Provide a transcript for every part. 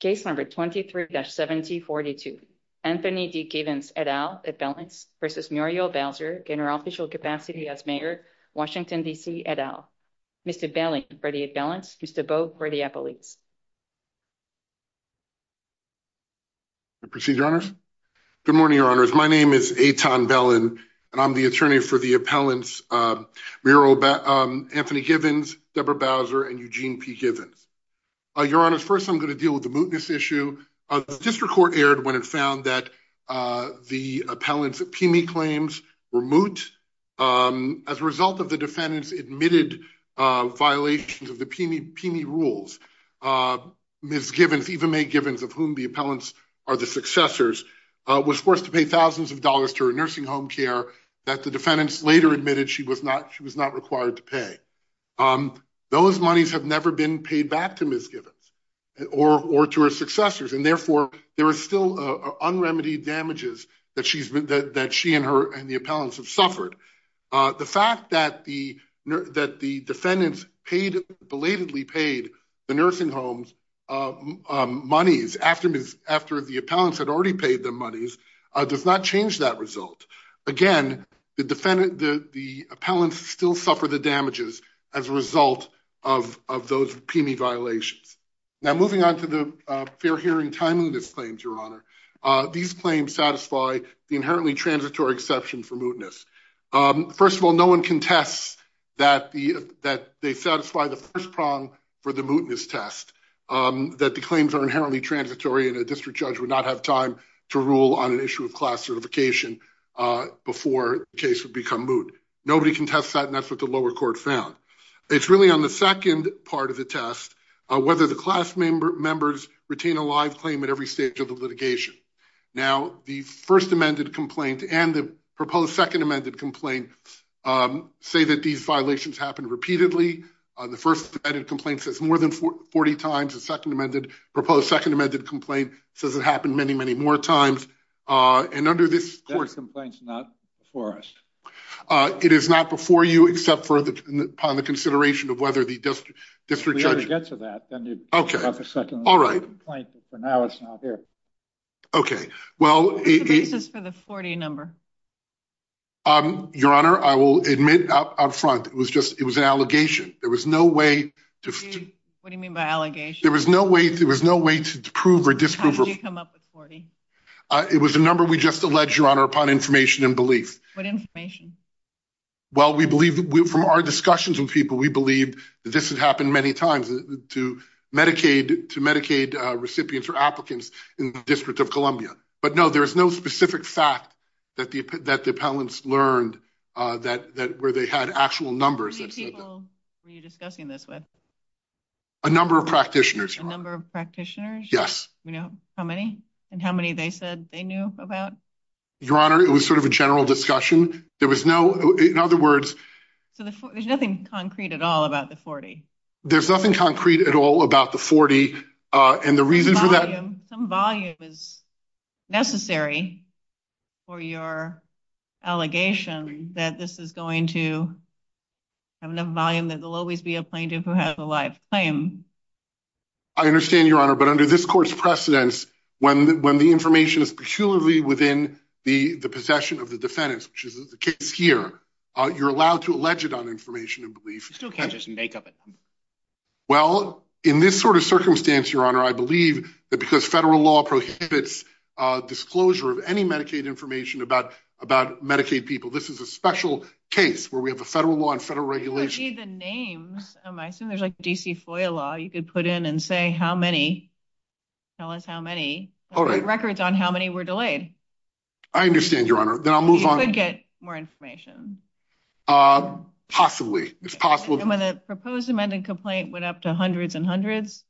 Case number 23-7042. Anthony D. Givens et al. Appellants versus Muriel Bowser in her official capacity as Mayor Washington, D.C. et al. Mr. Bellen for the appellants. Mr. Bowe for the appellants. Proceed, Your Honors. Good morning, Your Honors. My name is Eitan Bellen and I'm the attorney for the appellants, Muriel Anthony Givens, Deborah Bowser, and Eugene P. Givens. Your Honors, I'm going to deal with the mootness issue. The district court erred when it found that the appellants of PME claims were moot as a result of the defendant's admitted violations of the PME rules. Ms. Givens, Eva Mae Givens, of whom the appellants are the successors, was forced to pay thousands of dollars to her nursing home care that the defendant later admitted she was not required to pay. Those monies have never been paid back to Ms. Givens. Or to her successors. And therefore, there are still unremitied damages that she and the appellants have suffered. The fact that the defendants belatedly paid the nursing home monies after the appellants had already paid the monies does not change that result. Again, the appellants still suffer the damages as a result of those PME violations. Now moving on to the fair hearing timeliness claims, Your Honor. These claims satisfy the inherently transitory exception for mootness. First of all, no one contests that they satisfy the first prong for the mootness test. That the claims are inherently transitory and a district judge would not have time to rule on an issue of class certification before the case would become moot. Nobody contests that, and that's what the lower court found. It's really on the second part of the test, whether the class members retain a live claim at every stage of the litigation. Now, the first amended complaint and the proposed second amended complaint say that these violations happen repeatedly. The first amended complaint says more than 40 times. The second amended, proposed second amended complaint says it happened many, more times. And under this court... That complaint's not before us. It is not before you except for the upon the consideration of whether the district judge... If we ever get to that, then you'd have a second amendment complaint, but for now it's not here. Okay, well... What's the basis for the 40 number? Your Honor, I will admit out front, it was just, it was an allegation. There was no way to... What do you mean by allegation? There was no way, there was no way to prove or disprove... How did you come up with 40? It was a number we just alleged, Your Honor, upon information and belief. What information? Well, we believe, from our discussions with people, we believe that this has happened many times to Medicaid, to Medicaid recipients or applicants in the District of Columbia. But no, there is no specific fact that the appellants learned that where they had actual numbers... How many people were you discussing this with? A number of practitioners. A number of practitioners? Yes. How many? And how many they said they knew about? Your Honor, it was sort of a general discussion. There was no, in other words... So there's nothing concrete at all about the 40? There's nothing concrete at all about the 40. And the reason for that... Some volume is necessary for your allegation that this is going to have enough volume that there'll always be a plaintiff who has a live claim. I understand, Your Honor, but under this court's precedence, when the information is peculiarly within the possession of the defendants, which is the case here, you're allowed to allege it on information and belief. You still can't just make up it. Well, in this sort of circumstance, Your Honor, I believe that because federal law prohibits disclosure of any Medicaid information about Medicaid people, this is a special case where we have a federal law and federal regulation... I can't see the names. I assume there's like a DC FOIA law you could put in and say, how many? Tell us how many records on how many were delayed. I understand, Your Honor. Then I'll move on. You could get more information. Possibly. It's possible. And when the proposed amended complaint went up to hundreds and hundreds,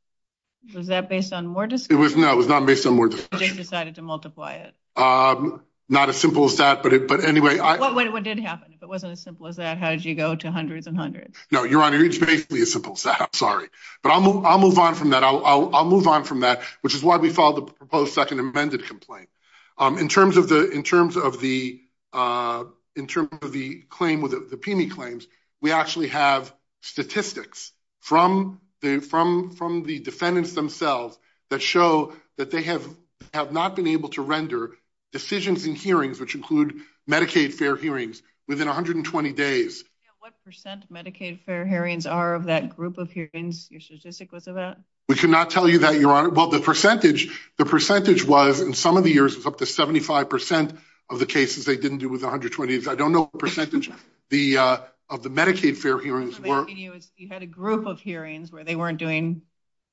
was that based on more discussion? It was not. It was not based on more discussion. But you decided to multiply it? Not as simple as that, but anyway, I... What did happen? If it wasn't as simple as that, how did you go to hundreds and hundreds? No, Your Honor, it's basically as simple as that. I'm sorry. But I'll move on from that. I'll move on from that, which is why we filed the proposed second amended complaint. In terms of the claim with the PIMI claims, we actually have statistics from the defendants themselves that show that they have not been able to render decisions in hearings, which include Medicaid fair hearings, within 120 days. What percent Medicaid fair hearings are of that group of hearings your statistic was about? We cannot tell you that, Your Honor. Well, the percentage was, in some of the years, was up to 75% of the cases they didn't do with 120 days. I don't know what percentage of the Medicaid fair hearings were. What I'm asking you is, you had a group of hearings where they weren't doing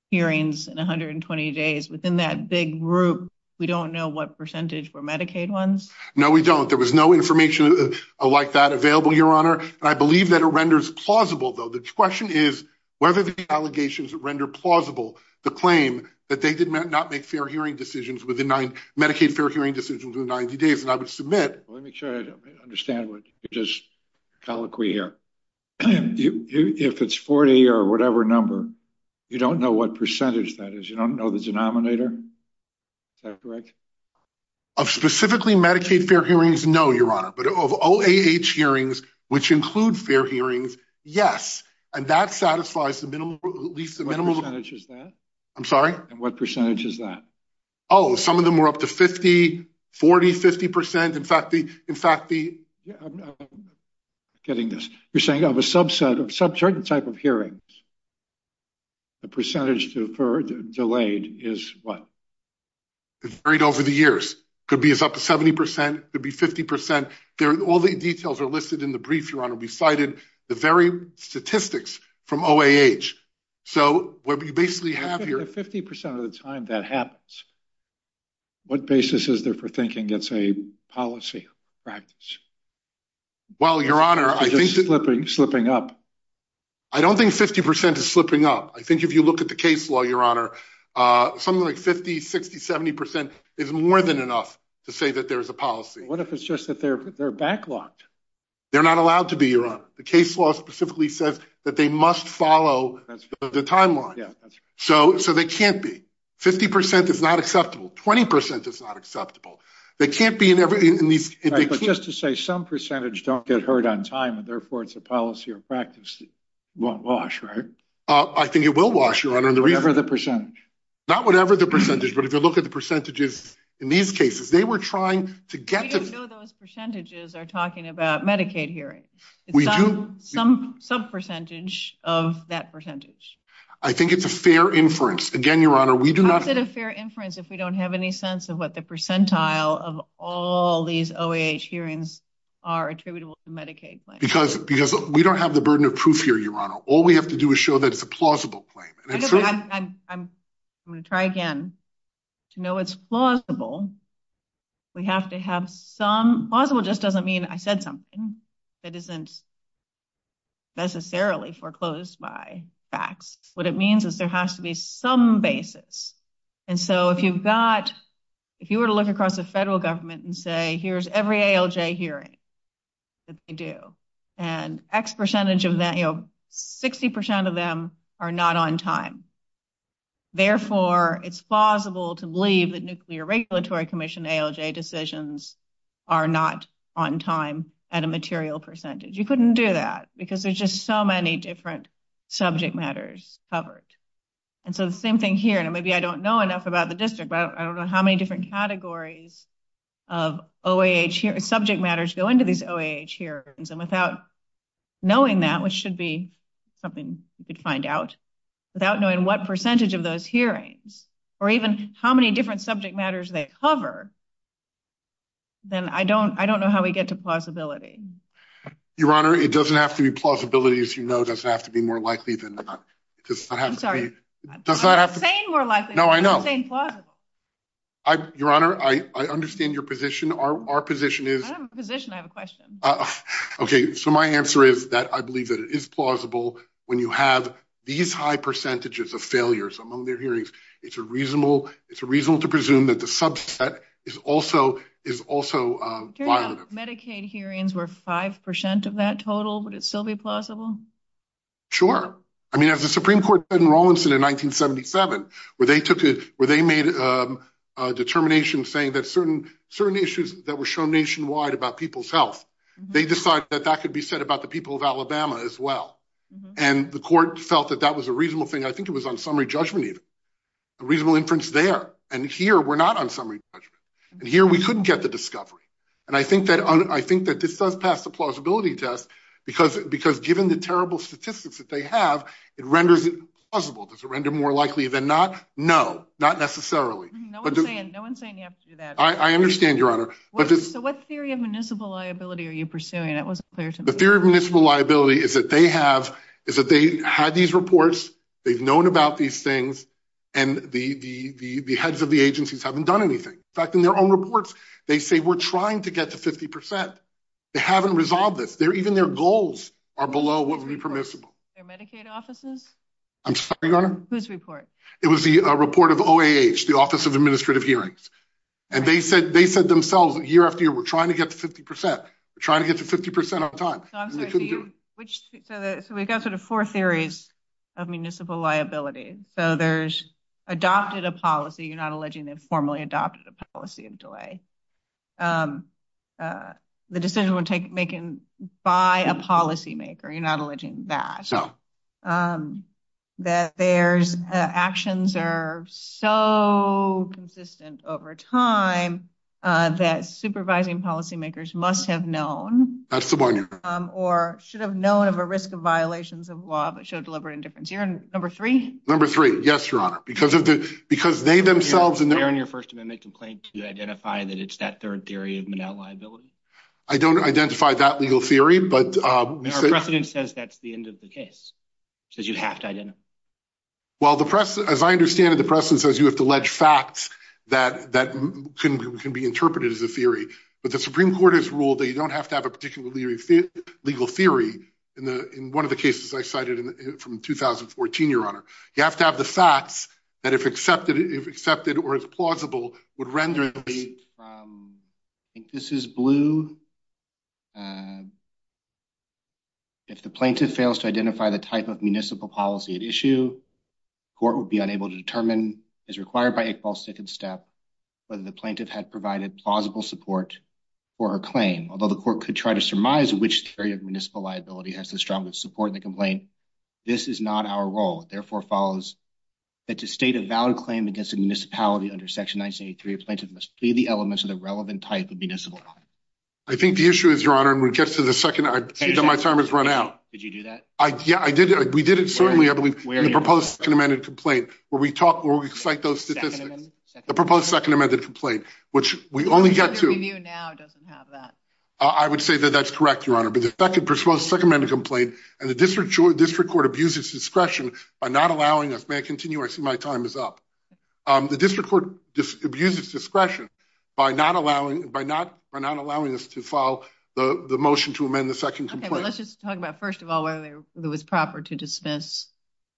hearings in 120 days. Within that big group, we don't know what percentage were Medicaid ones? No, we don't. There was no information like that available, Your Honor. I believe that it renders plausible, though. The question is whether the allegations render plausible the claim that they did not make Medicaid fair hearing decisions within 90 days. Let me make sure I understand what you're just colloquy here. If it's 40 or whatever number, you don't know what percentage that is? You don't know the denominator? Is that correct? Of specifically Medicaid fair hearings, no, Your Honor. But of OAH hearings, which include fair hearings, yes. And that satisfies at least the minimum- What percentage is that? I'm sorry? And what percentage is that? Oh, some of them were up to 50, 40, 50%. In fact, the- I'm getting this. You're saying of a subset of certain type of hearings, the percentage deferred, delayed, is what? It's varied over the years. Could be it's up to 70%, could be 50%. All the details are listed in the brief, Your Honor. We cited the very statistics from OAH. So what we basically have here- 50% of the time that happens. What basis is there for thinking it's a policy practice? Well, Your Honor, I think- It's slipping up. I don't think 50% is slipping up. I think if you look at the case law, Your Honor, something like 50, 60, 70% is more than enough to say that there is a policy. What if it's just that they're backlocked? They're not allowed to be, Your Honor. The case law specifically says that they must follow the timeline. Yeah, that's right. So they can't be. 50% is not acceptable. 20% is not acceptable. They can't be in these- All right, but just to say some percentage don't get heard on time, and therefore it's a policy or practice, won't wash, right? I think it will wash, Your Honor. Whatever the percentage. Not whatever the percentage, but if you look at the percentages in these cases, they were trying to get to- We don't know those percentages are talking about Medicaid hearings. We do- Some sub-percentage of that percentage. I think it's a fair inference. Again, Your Honor, we do not- How is it a fair inference if we don't have any sense of what the percentile of all these OAH hearings are attributable to Medicaid claims? Because we don't have the burden of proof here, Your Honor. All we have to do is show that it's a plausible claim. I'm going to try again. To know it's plausible, we have to have some- Plausible just doesn't mean I said something that isn't necessarily foreclosed by facts. What it means is there has to be some basis. And so if you were to look across the federal government and say, here's every ALJ hearing that they do, and X percentage of that, 60% of them are not on time. Therefore, it's plausible to believe that Nuclear Regulatory Commission ALJ decisions are not on time at a material percentage. You couldn't do that because there's just so many different subject matters covered. And so the same thing here, and maybe I don't know enough about the district, I don't know how many different categories of OAH subject matters go into these OAH hearings. And without knowing that, which should be something you could find out, without knowing what percentage of those hearings, or even how many different subject matters they cover, then I don't know how we get to plausibility. Your Honor, it doesn't have to be plausibility, as you know. It doesn't have to be more likely than not. It doesn't have to be- I'm sorry. It doesn't have to be- I'm saying more likely. No, I know. I'm saying plausible. Your Honor, I understand your position. Our position is- I don't have a position. I have a question. Okay, so my answer is that I believe that it is plausible when you have these high percentages of failures among their hearings. It's reasonable to presume that the subset is also violent. If Medicaid hearings were 5% of that total, would it still be plausible? Sure. I mean, as the Supreme Court said in Rawlinson in 1977, where they made a determination saying that certain issues that were shown nationwide about people's health, they decided that that could be said about the people of Alabama as well. And the court felt that that was a reasonable thing. I think it was on summary judgment even. A reasonable inference there. And here, we're not on summary judgment. And here, we couldn't get the discovery. And I think that this does pass the plausibility test, because given the terrible statistics that they have, it renders it plausible. Does it render more likely than not? No, not necessarily. No one's saying you have to do that. I understand, Your Honor. So what theory of municipal liability are you pursuing? That wasn't clear to me. The theory of municipal liability is that they had these reports, they've known about these things, and the heads of the agencies haven't done anything. In fact, in their own reports, they say we're trying to get to 50%. They haven't resolved this. Even their goals are below what would be permissible. Their Medicaid offices? I'm sorry, Your Honor? Whose report? It was the report of OAH, the Office of Administrative Hearings. And they said themselves that year after year, we're trying to get to 50%. We're trying to get to 50% of the time. So I'm sorry, so we've got sort of four theories of municipal liability. So there's adopted a policy, you're not alleging they've formally adopted a policy of delay. The decision was taken by a policymaker, you're not alleging that. No. That there's actions are so consistent over time, that supervising policymakers must have known. That's the one, Your Honor. Or should have known of a risk of violations of law, but showed deliberate indifference. You're on number three? Number three. Yes, Your Honor. Because of the, because they themselves... Were you clear in your First Amendment complaint to identify that it's that third theory of municipal liability? I don't identify that legal theory, but... Well, the press, as I understand it, the press says you have to allege facts that can be interpreted as a theory. But the Supreme Court has ruled that you don't have to have a particular legal theory in one of the cases I cited from 2014, Your Honor. You have to have the facts that if accepted, or it's plausible, would render it... I think this is blue. If the plaintiff fails to identify the type of municipal policy at issue, court would be unable to determine, as required by Iqbal's second step, whether the plaintiff had provided plausible support for her claim. Although the court could try to surmise which theory of municipal liability has the strongest support in the complaint, this is not our role. It therefore follows that to state a valid claim against a municipality under Section 1983, a plaintiff must plead the elements of the relevant type of municipal. I think the issue is, Your Honor, when it gets to the second... I see that my time has run out. Did you do that? Yeah, I did. We did it, certainly, I believe, in the proposed second amended complaint, where we cite those statistics. The proposed second amended complaint, which we only get to... The Supreme Court now doesn't have that. I would say that that's correct, Your Honor. But the second proposed second amended complaint, and the district court abuses discretion by not allowing us... May I continue? I see my time is up. The district court abuses discretion by not allowing us to follow the motion to amend the second complaint. Well, let's just talk about, first of all, whether it was proper to dismiss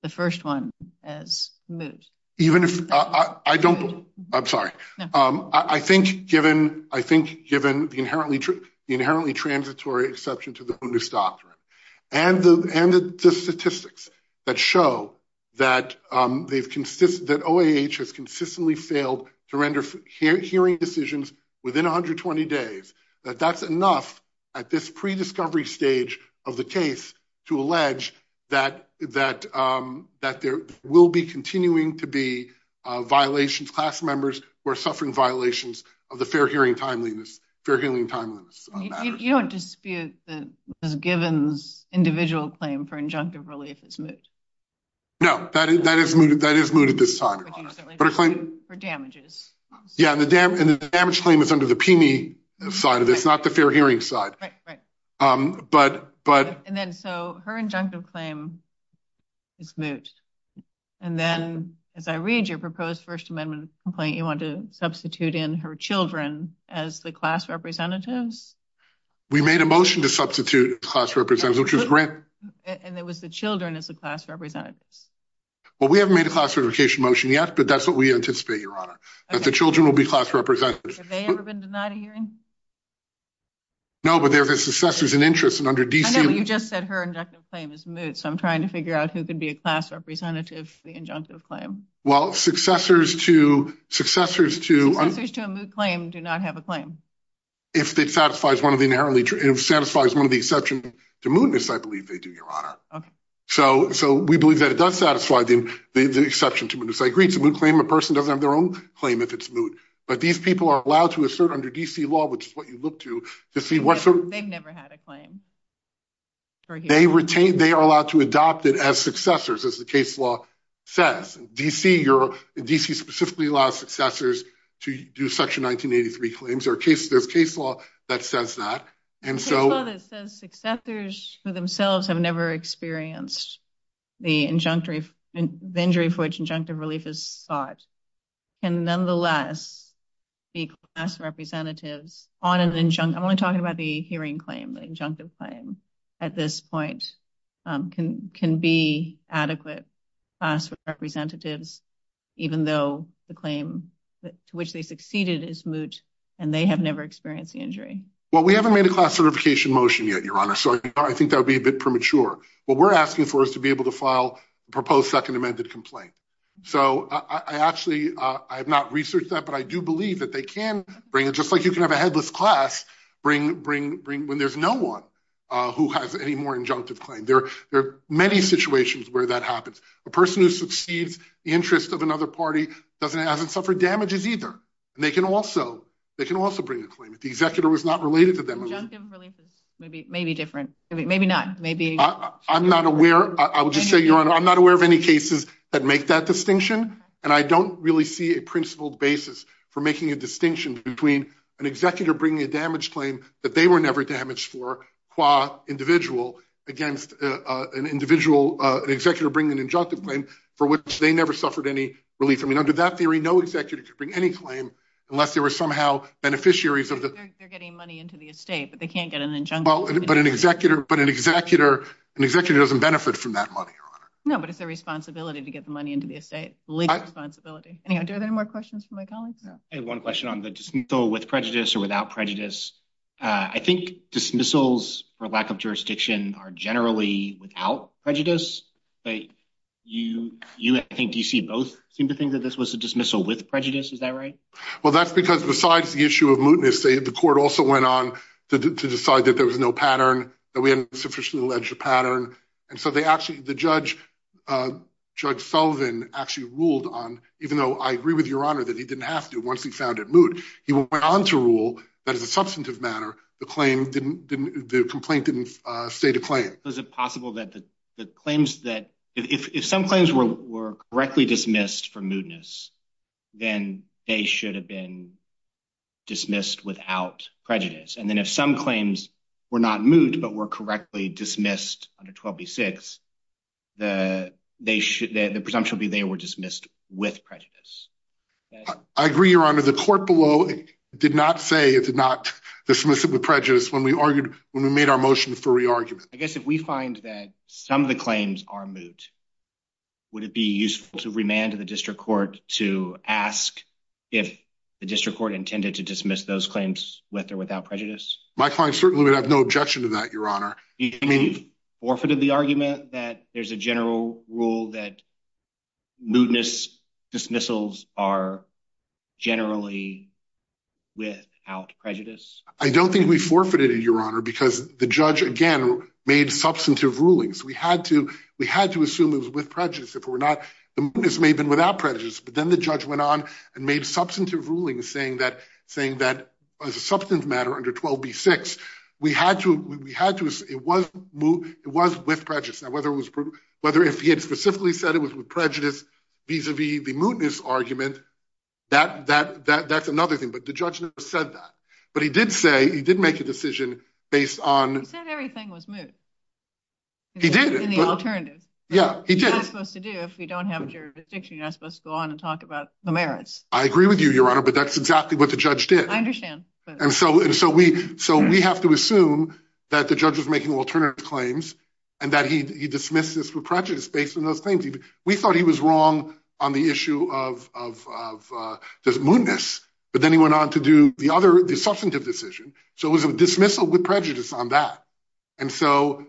the first one as moot. Even if... I don't... I'm sorry. I think, given the inherently transitory exception to the bonus doctrine, and the statistics that show that OAH has consistently failed to render hearing decisions within 120 days, that that's enough at this pre-discovery stage of the case to allege that there will be continuing to be violations, class members who are suffering violations of the fair hearing timeliness, fair hearing timeliness matters. You don't dispute that Ms. Givens' individual claim for injunctive relief is moot? No, that is mooted this time, Your Honor. But her claim... For damages. Yeah, and the damage claim is under the PME side of this, not the fair hearing side. Right, right. And then, so her injunctive claim is moot. And then, as I read your proposed first amendment complaint, you want to substitute in her children as the class representatives? We made a motion to substitute class representatives, which was grant... And it was the children as the class representatives. Well, we haven't made a class certification motion yet, but that's what we anticipate, Your Honor, that the children will be class representatives. Have they ever been denied a hearing? No, but they're the successors in interest, and under DC... I know, but you just said her injunctive claim is moot, so I'm trying to figure out who could be a class representative for the injunctive claim. Well, successors to... Successors to a moot claim do not have a claim. If it satisfies one of the inherently... If it satisfies one of the exceptions to mootness, I believe they do, Your Honor. Okay. So we believe that it does satisfy the exception to mootness. I agree, it's a moot claim. A person doesn't have their own claim if it's moot, but these people are allowed to assert under DC law, which is what you look to, to see what sort of... They've never had a claim. They are allowed to adopt it as successors, as the case law says. DC specifically allows successors to do Section 1983 claims. There's case law that says that, and so... Case law that says successors who themselves have never experienced the injury for which injunctive relief is sought can nonetheless be class representatives on an... I'm only talking about the hearing claim, the injunctive claim at this point, can be adequate class representatives, even though the claim to which they succeeded is moot, and they have never experienced the injury. Well, we haven't made a class certification motion yet, Your Honor, so I think that would be a bit premature. What we're asking for is to be able to file a proposed second amended complaint. So I actually, I have not researched that, but I do believe that they can bring it, just like you can have a headless class, bring... When there's no one who has any more injunctive claim. There are many situations where that happens. A person who succeeds the interest of another party hasn't suffered damages either, and they can also bring a claim if the executor was not related to them. Injunctive relief is maybe different, maybe not, maybe... I'm not aware, I would just say, Your Honor, I'm not aware of any cases that make that distinction, and I don't really see a principled basis for making a distinction between an executor bringing a damage claim that they were never damaged for, qua individual, against an individual, an executor bringing an injunctive claim for which they never suffered any relief. I mean, under that theory, no executor could bring any claim unless there were somehow beneficiaries of the... They're getting money into the estate, but they can't get an injunctive. But an executor doesn't benefit from that money, Your Honor. No, but it's their responsibility to get the money into the estate, legal responsibility. Anyhow, are there any more questions from my colleagues? I have one question on the dismissal with prejudice or without prejudice. I think dismissals for lack of jurisdiction are generally without prejudice, but I think both seem to think that this was a dismissal with prejudice. Is that right? Well, that's because besides the issue of mootness, the court also went on to decide that there was no pattern, that we hadn't sufficiently alleged a pattern. And so the judge, Judge Sullivan, actually ruled on, even though I agree with Your Honor that he didn't have to once he found it moot, he went on to rule that as a substantive matter, the complaint didn't state a claim. Was it possible that the claims that, if some claims were correctly dismissed for mootness, then they should have been dismissed without prejudice. And then if some claims were not moot, but were correctly dismissed under 12B6, the presumption would be they were dismissed with prejudice. I agree, Your Honor. The court below did not say it did not dismiss it with prejudice when we argued, when we made our motion for re-argument. I guess if we find that some of the claims are moot, would it be useful to remand the district court to ask if the district court intended to dismiss those claims with or without prejudice? My client certainly would have no objection to that, Your Honor. Do you think we've forfeited the argument that there's a general rule that mootness dismissals are generally without prejudice? I don't think we forfeited it, Your Honor, because the judge, again, made substantive rulings. We had to assume it was with prejudice. The mootness may have been without prejudice, but then the judge went on and made substantive rulings saying that as a substantive matter under 12B6, it was with prejudice. Now, whether if he had specifically said it was with prejudice vis-a-vis the mootness argument, that's another thing. But the judge never said that. But he did say he did make a decision based on- He said everything was moot. He did. In the alternative. Yeah, he did. That's what you're supposed to do if you don't have a jurisdiction. You're not supposed to go on and talk about the merits. I agree with you, Your Honor, but that's exactly what the judge did. I understand. And so we have to assume that the judge was making alternative claims and that he dismissed this with prejudice based on those claims. We thought he was wrong on the issue of mootness. But then he went on to do the other, the substantive decision. So it was a dismissal with prejudice on that. And so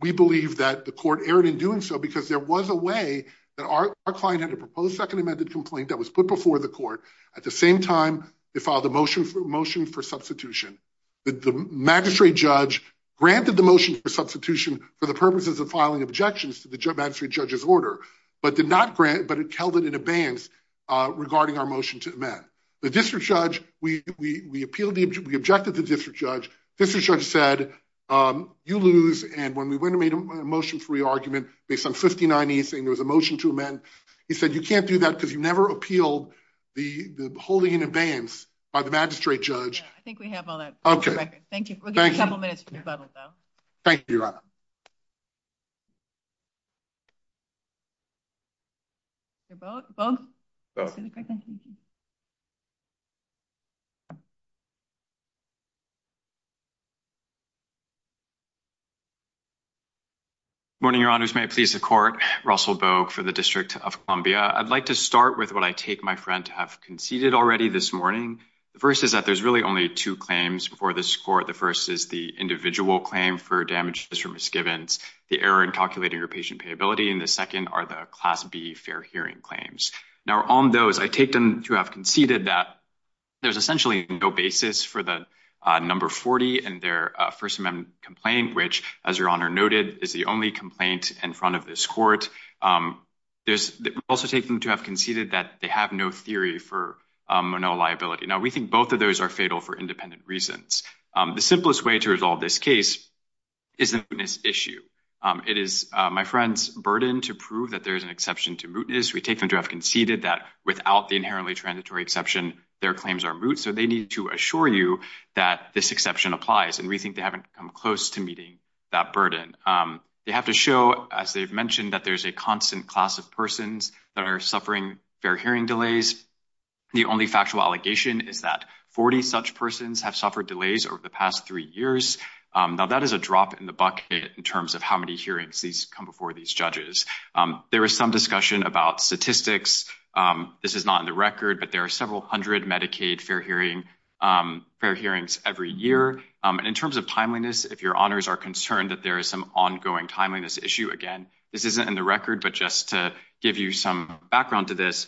we believe that the court erred in doing so because there was a way that our client had a proposed second amended complaint that was put before the court. At the same time, they filed a motion for substitution. The magistrate judge granted the motion for substitution for the purposes of filing objections to the magistrate judge's order, but did not grant, but it held it in abeyance regarding our motion to amend. The district judge, we appealed, we objected to the district judge. District judge said, you lose. And when we went and made a motion for re-argument based on 59E saying there was a motion to amend, he said, you can't do that because you never appealed the holding in abeyance by the magistrate judge. I think we have all that. Thank you. We'll give you a couple minutes for rebuttal, though. Thank you, Your Honor. Your vote? Vote? Vote? Morning, Your Honors. May it please the court. Russell Bogue for the District of Columbia. I'd like to start with what I take my friend to have conceded already this morning. The first is that there's really only two claims before this court. The first is the individual claim for damages or misgivings, the error in calculating your patient payability. And the second are the Class B fair hearing claims. Now, on those, I take them to have conceded that there's essentially no basis for the number 40 in their First Amendment complaint, which, as Your Honor noted, is the only complaint in front of this court. I also take them to have conceded that they have no theory for a no liability. Now, we think both of those are fatal for independent reasons. The simplest way to resolve this case is a mootness issue. It is my friend's burden to prove that there is an exception to mootness. We take them to have conceded that without the inherently transitory exception, their claims are moot. So they need to assure you that this exception applies. And we think they haven't come close to meeting that burden. They have to show, as they've mentioned, that there's a constant class of persons that are suffering fair hearing delays. The only factual allegation is that 40 such persons have suffered delays over the past three years. Now, that is a drop in the bucket in terms of how many hearings come before these judges. There is some discussion about statistics. This is not in the record, but there are several hundred Medicaid fair hearings every year. In terms of timeliness, if Your Honors are concerned that there is some ongoing timeliness issue, again, this isn't in the record. But just to give you some background to this,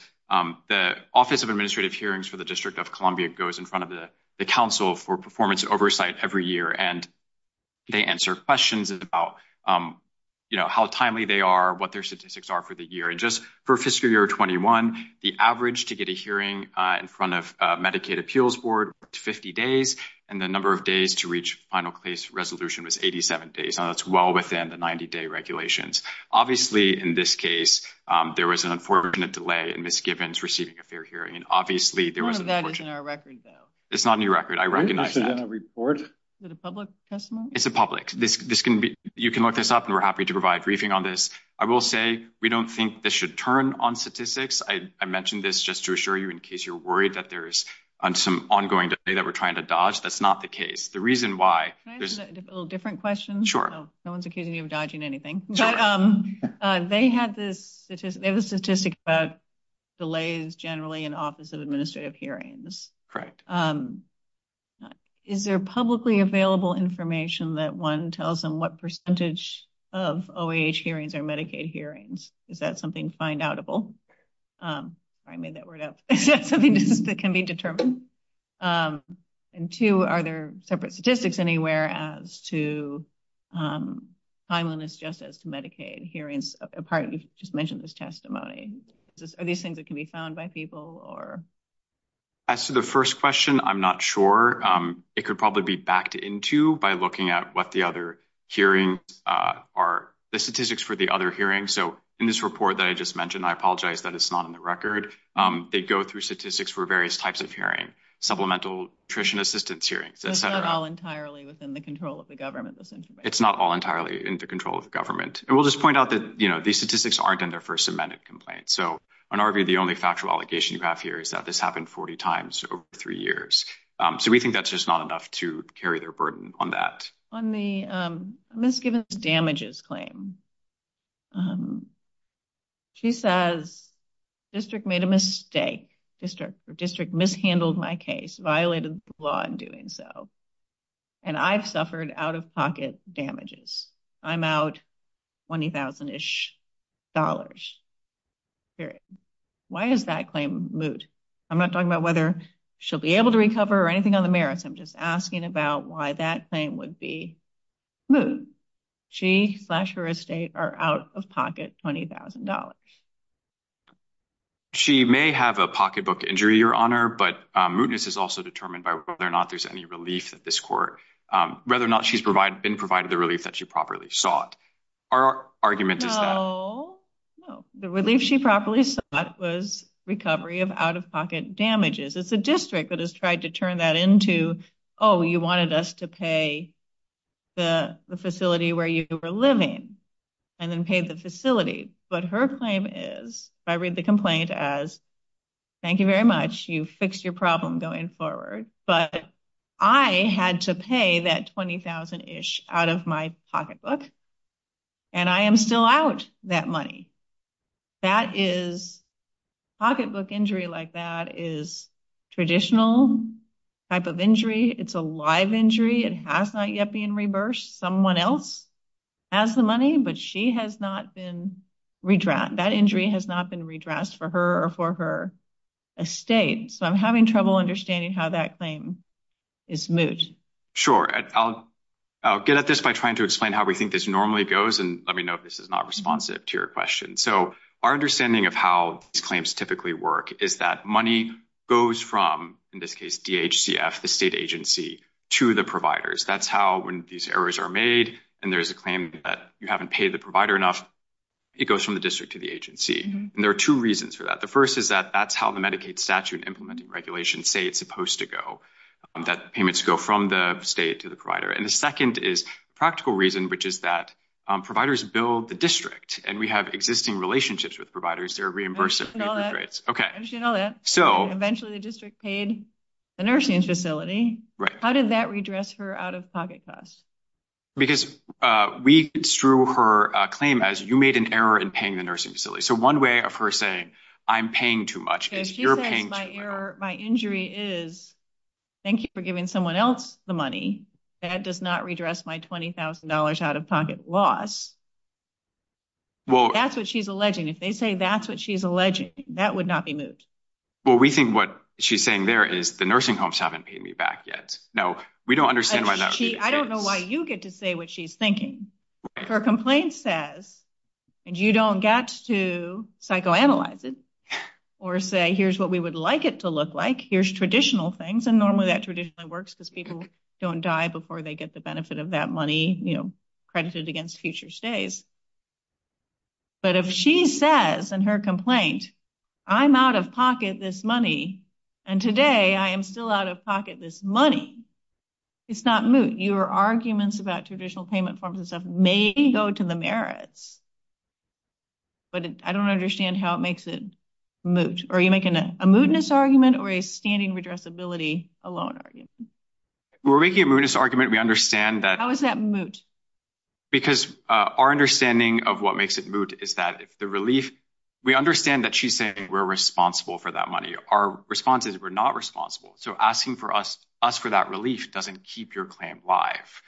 the Office of Administrative Hearings for the District of Columbia goes in front of the Council for Performance Oversight every year, and they answer questions about, you know, how timely they are, what their statistics are for the year. And just for fiscal year 21, the average to get a hearing in front of Medicaid Appeals Board was 50 days, and the number of days to reach final case resolution was 87 days. Now, that's well within the 90-day regulations. Obviously, in this case, there was an unfortunate delay in misgivings receiving a fair hearing. And obviously, there was an unfortunate— None of that is in our record, though. It's not in your record. I recognize that. Is it a public testimony? It's a public. You can look this up, and we're happy to provide briefing on this. I will say, we don't think this should turn on statistics. I mentioned this just to assure you in case you're worried that there is some ongoing delay that we're trying to dodge. That's not the case. The reason why— Can I ask a little different question? Sure. No one's accusing you of dodging anything. Sure. They had this statistic about delays generally in Office of Administrative Hearings. Correct. Is there publicly available information that one tells them what percentage of OAH hearings are Medicaid hearings? Is that something find-outable? Sorry, I made that word up. Is that something that can be determined? And two, are there separate statistics anywhere as to timeliness just as to Medicaid hearings? Apart—you just mentioned this testimony. Are these things that can be found by people? As to the first question, I'm not sure. It could probably be backed into by looking at what the other hearings are, the statistics for the other hearings. So in this report that I just mentioned, I apologize that it's not in the record, they go through statistics for various types of hearing—supplemental nutrition assistance hearings, et cetera. But it's not all entirely within the control of the government, this information? It's not all entirely in the control of the government. And we'll just point out that these statistics aren't in their first amended complaint. So in our view, the only factual allegation you have here is that this happened 40 times over three years. So we think that's just not enough to carry their burden on that. On the misgivings damages claim, she says, district made a mistake, district mishandled my case, violated the law in doing so, and I've suffered out-of-pocket damages. I'm out $20,000-ish, period. Why is that claim moot? I'm not talking about whether she'll be able to recover or anything on the merits, I'm just asking about why that claim would be moot. She, slash her estate, are out-of-pocket $20,000. She may have a pocketbook injury, Your Honor, but mootness is also determined by whether or not there's any relief that this court—whether or not she's been provided the relief that she properly sought. Our argument is that— No, no. The relief she properly sought was recovery of out-of-pocket damages. It's the district that has tried to turn that into, oh, you wanted us to pay the facility where you were living and then pay the facility. But her claim is, if I read the complaint as, thank you very much, you fixed your problem going forward, but I had to pay that $20,000-ish out of my pocketbook, and I am still out that money. Pocketbook injury like that is a traditional type of injury. It's a live injury. It has not yet been reversed. Someone else has the money, but that injury has not been redressed for her or for her estate. I'm having trouble understanding how that claim is moot. Sure. I'll get at this by trying to explain how we think this normally goes, and let me know if this is not responsive to your question. Our understanding of how these claims typically work is that money goes from, in this case, DHCF, the state agency, to the providers. That's how, when these errors are made and there's a claim that you haven't paid the provider enough, it goes from the district to the agency. There are two reasons for that. The first is that that's how the Medicaid statute and implementing regulations say it's supposed to go, that payments go from the state to the provider. The second is a practical reason, which is that providers bill the district, and we have existing relationships with providers. They're reimbursable. I understand all that. Eventually, the district paid the nursing facility. How did that redress her out-of-pocket costs? Because we drew her claim as, you made an error in paying the nursing facility. One way of her saying, I'm paying too much is you're paying too little. My injury is, thank you for giving someone else the money. That does not redress my $20,000 out-of-pocket loss. That's what she's alleging. If they say that's what she's alleging, that would not be moved. Well, we think what she's saying there is the nursing homes haven't paid me back yet. Now, we don't understand why that would be the case. I don't know why you get to say what she's thinking. Her complaint says, and you don't get to psychoanalyze it, or say, here's what we would like it to look like. Here's traditional things. And normally, that traditionally works because people don't die before they get the benefit of that money credited against future stays. But if she says in her complaint, I'm out-of-pocket this money, and today, I am still out-of-pocket this money, it's not moved. Your arguments about traditional payment forms and stuff may go to the merits, but I don't understand how it makes it moot. Are you making a mootness argument or a standing redressability alone argument? We're making a mootness argument. We understand that— How is that moot? Because our understanding of what makes it moot is that if the relief—we understand that she's saying we're responsible for that money. Our response is we're not responsible. So asking us for that relief doesn't keep your claim live.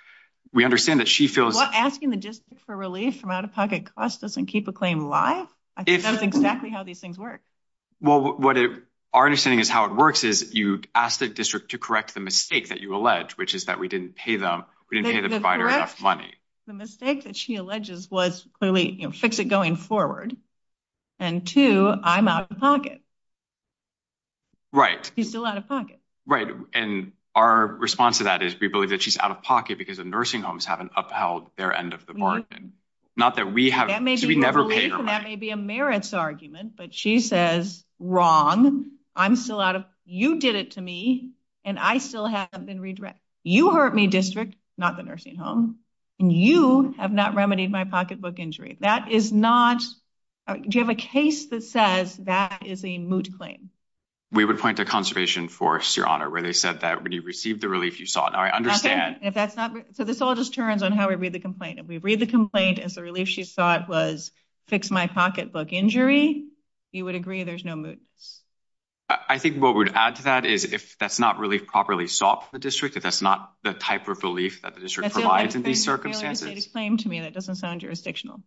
We understand that she feels— Asking the district for relief from out-of-pocket costs doesn't keep a claim live? I think that's exactly how these things work. Well, our understanding is how it works is you ask the district to correct the mistake that you allege, which is that we didn't pay the provider enough money. The mistake that she alleges was clearly fix it going forward. And two, I'm out-of-pocket. Right. She's still out-of-pocket. Right. And our response to that is we believe that she's out-of-pocket because the nursing homes haven't upheld their end of the bargain. Not that we have— That may be your belief and that may be a merits argument. But she says, wrong. I'm still out of—you did it to me and I still have been redirected. You hurt me, district, not the nursing home. And you have not remedied my pocketbook injury. That is not—do you have a case that says that is a moot claim? We would point to Conservation Force, Your Honor, where they said that when you received the relief, you saw it. Now, I understand— If that's not—so this all just turns on how we read the complaint. If we read the complaint as the relief she sought was fix my pocketbook injury, you would agree there's no moot. I think what we'd add to that is if that's not relief properly sought for the district, if that's not the type of relief that the district provides in these circumstances— That's a failure to state a claim to me. That doesn't sound jurisdictional.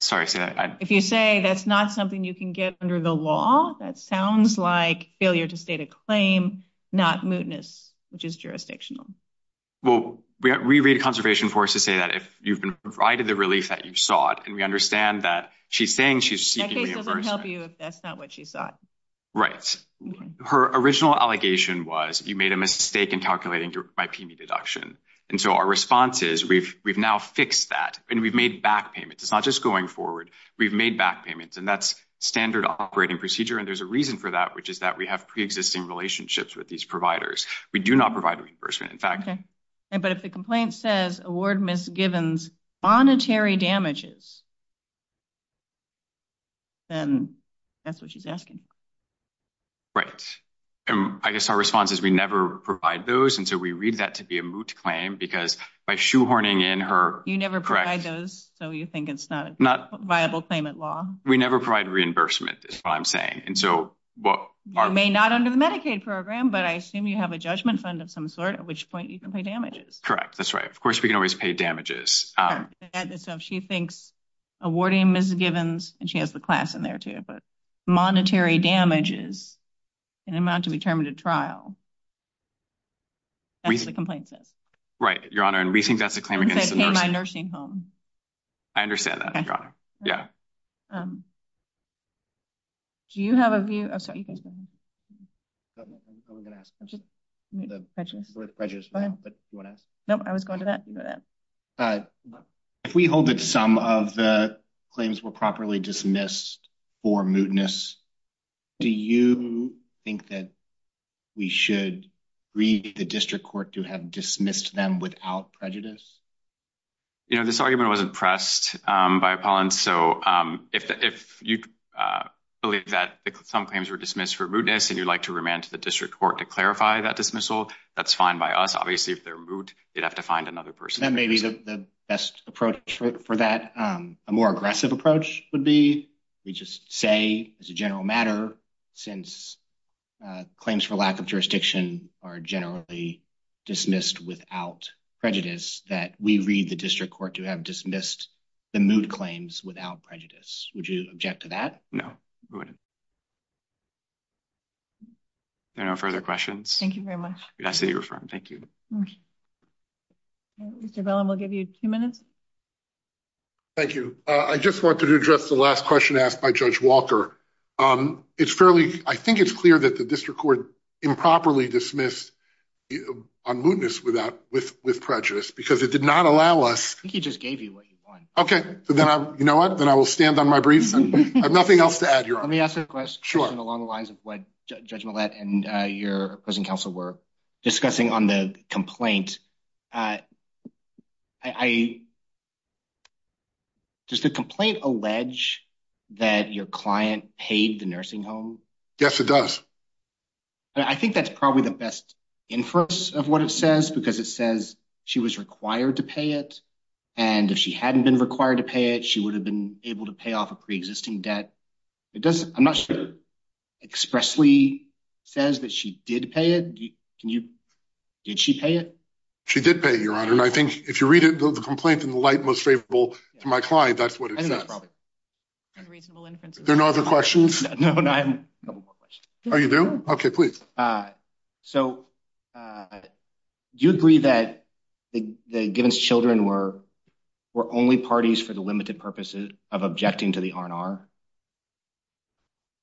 Sorry, say that again. If you say that's not something you can get under the law, that sounds like failure to state a claim, not mootness, which is jurisdictional. Well, we read Conservation Force to say that if you've been provided the relief that you sought, and we understand that she's saying she's seeking reimbursement— That case doesn't help you if that's not what she sought. Right. Her original allegation was you made a mistake in calculating my PME deduction. And so our response is we've now fixed that and we've made back payments. It's not just going forward. We've made back payments, and that's standard operating procedure. And there's a reason for that, which is that we have pre-existing relationships with these providers. We do not provide reimbursement, in fact. But if the complaint says award misgivings, monetary damages, then that's what she's asking. Right. I guess our response is we never provide those, and so we read that to be a moot claim because by shoehorning in her— You never provide those, so you think it's not— Viable claimant law. We never provide reimbursement is what I'm saying. And so what— You may not under the Medicaid program, but I assume you have a judgment fund of some sort, at which point you can pay damages. Correct. That's right. Of course, we can always pay damages. So if she thinks awarding misgivings—and she has the class in there, too—but monetary damages in an amount to be termed a trial, that's what the complaint says. Right, Your Honor. And we think that's a claim against the nursing— And say pay my nursing home. I understand that, Your Honor. Yeah. Do you have a view—oh, sorry, you guys go ahead. No, no, I was going to ask. I'm just— Prejudice. Prejudice, but you want to ask? No, I was going to that. If we hold that some of the claims were properly dismissed for mootness, do you think that we should read the district court to have dismissed them without prejudice? You know, this argument wasn't pressed by Apollon, so if you believe that some claims were dismissed for mootness and you'd like to remand to the district court to clarify that dismissal, that's fine by us. Obviously, if they're moot, they'd have to find another person. Then maybe the best approach for that, a more aggressive approach, would be we just say, as a general matter, since claims for lack of jurisdiction are generally dismissed without prejudice, that we read the district court to have dismissed the moot claims without prejudice. Would you object to that? No, I wouldn't. Are there no further questions? Thank you very much. Good, I see you're affirmed. Thank you. Mr. Bellin, we'll give you two minutes. Thank you. I just wanted to address the last question asked by Judge Walker. It's fairly—I think it's clear that the district court improperly dismissed on mootness with prejudice because it did not allow us— I think he just gave you what you want. Okay, you know what? Then I will stand on my briefs. I have nothing else to add. Let me ask a question along the lines of what Judge Millett and your opposing counsel were discussing on the complaint. Does the complaint allege that your client paid the nursing home? Yes, it does. I think that's probably the best inference of what it says because it says she was required to pay it, and if she hadn't been required to pay it, she would have been able to pay off a pre-existing debt. I'm not sure it expressly says that she did pay it. Did she pay it? She did pay it, Your Honor, and I think if you read it, the complaint in the light most favorable to my client, that's what it says. There are no other questions? No, I have no more questions. Oh, you do? Okay, please. So, do you agree that the Givens children were only parties for the limited purposes of objecting to the R&R?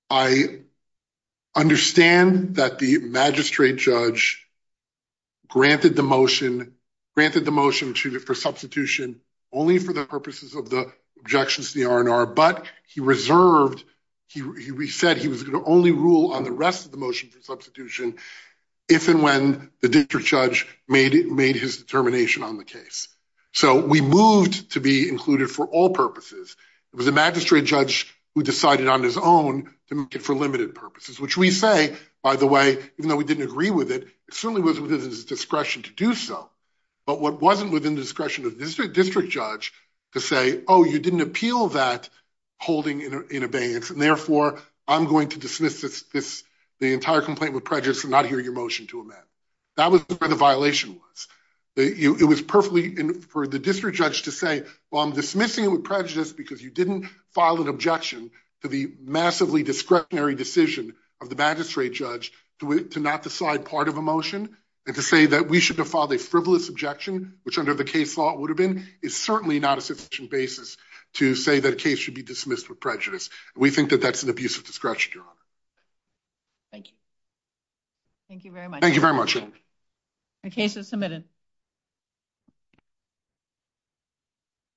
I understand that the magistrate judge granted the motion for substitution only for the purposes of the objections to the R&R, but he said he was going to only rule on the rest of the motion for substitution if and when the district judge made his determination on the case. So, we moved to be included for all purposes. It was the magistrate judge who decided on his own to move it for limited purposes, which we say, by the way, even though we didn't agree with it, it certainly was within his Oh, you didn't appeal that holding in abeyance, and therefore I'm going to dismiss the entire complaint with prejudice and not hear your motion to amend. That was where the violation was. It was perfectly for the district judge to say, well, I'm dismissing it with prejudice because you didn't file an objection to the massively discretionary decision of the magistrate judge to not decide part of a motion and to say that we should have filed a frivolous objection, which under the case law it would have been, is certainly not a sufficient basis to say that a case should be dismissed with prejudice. We think that that's an abusive discretion, Your Honor. Thank you. Thank you very much. Thank you very much, Your Honor. The case is submitted.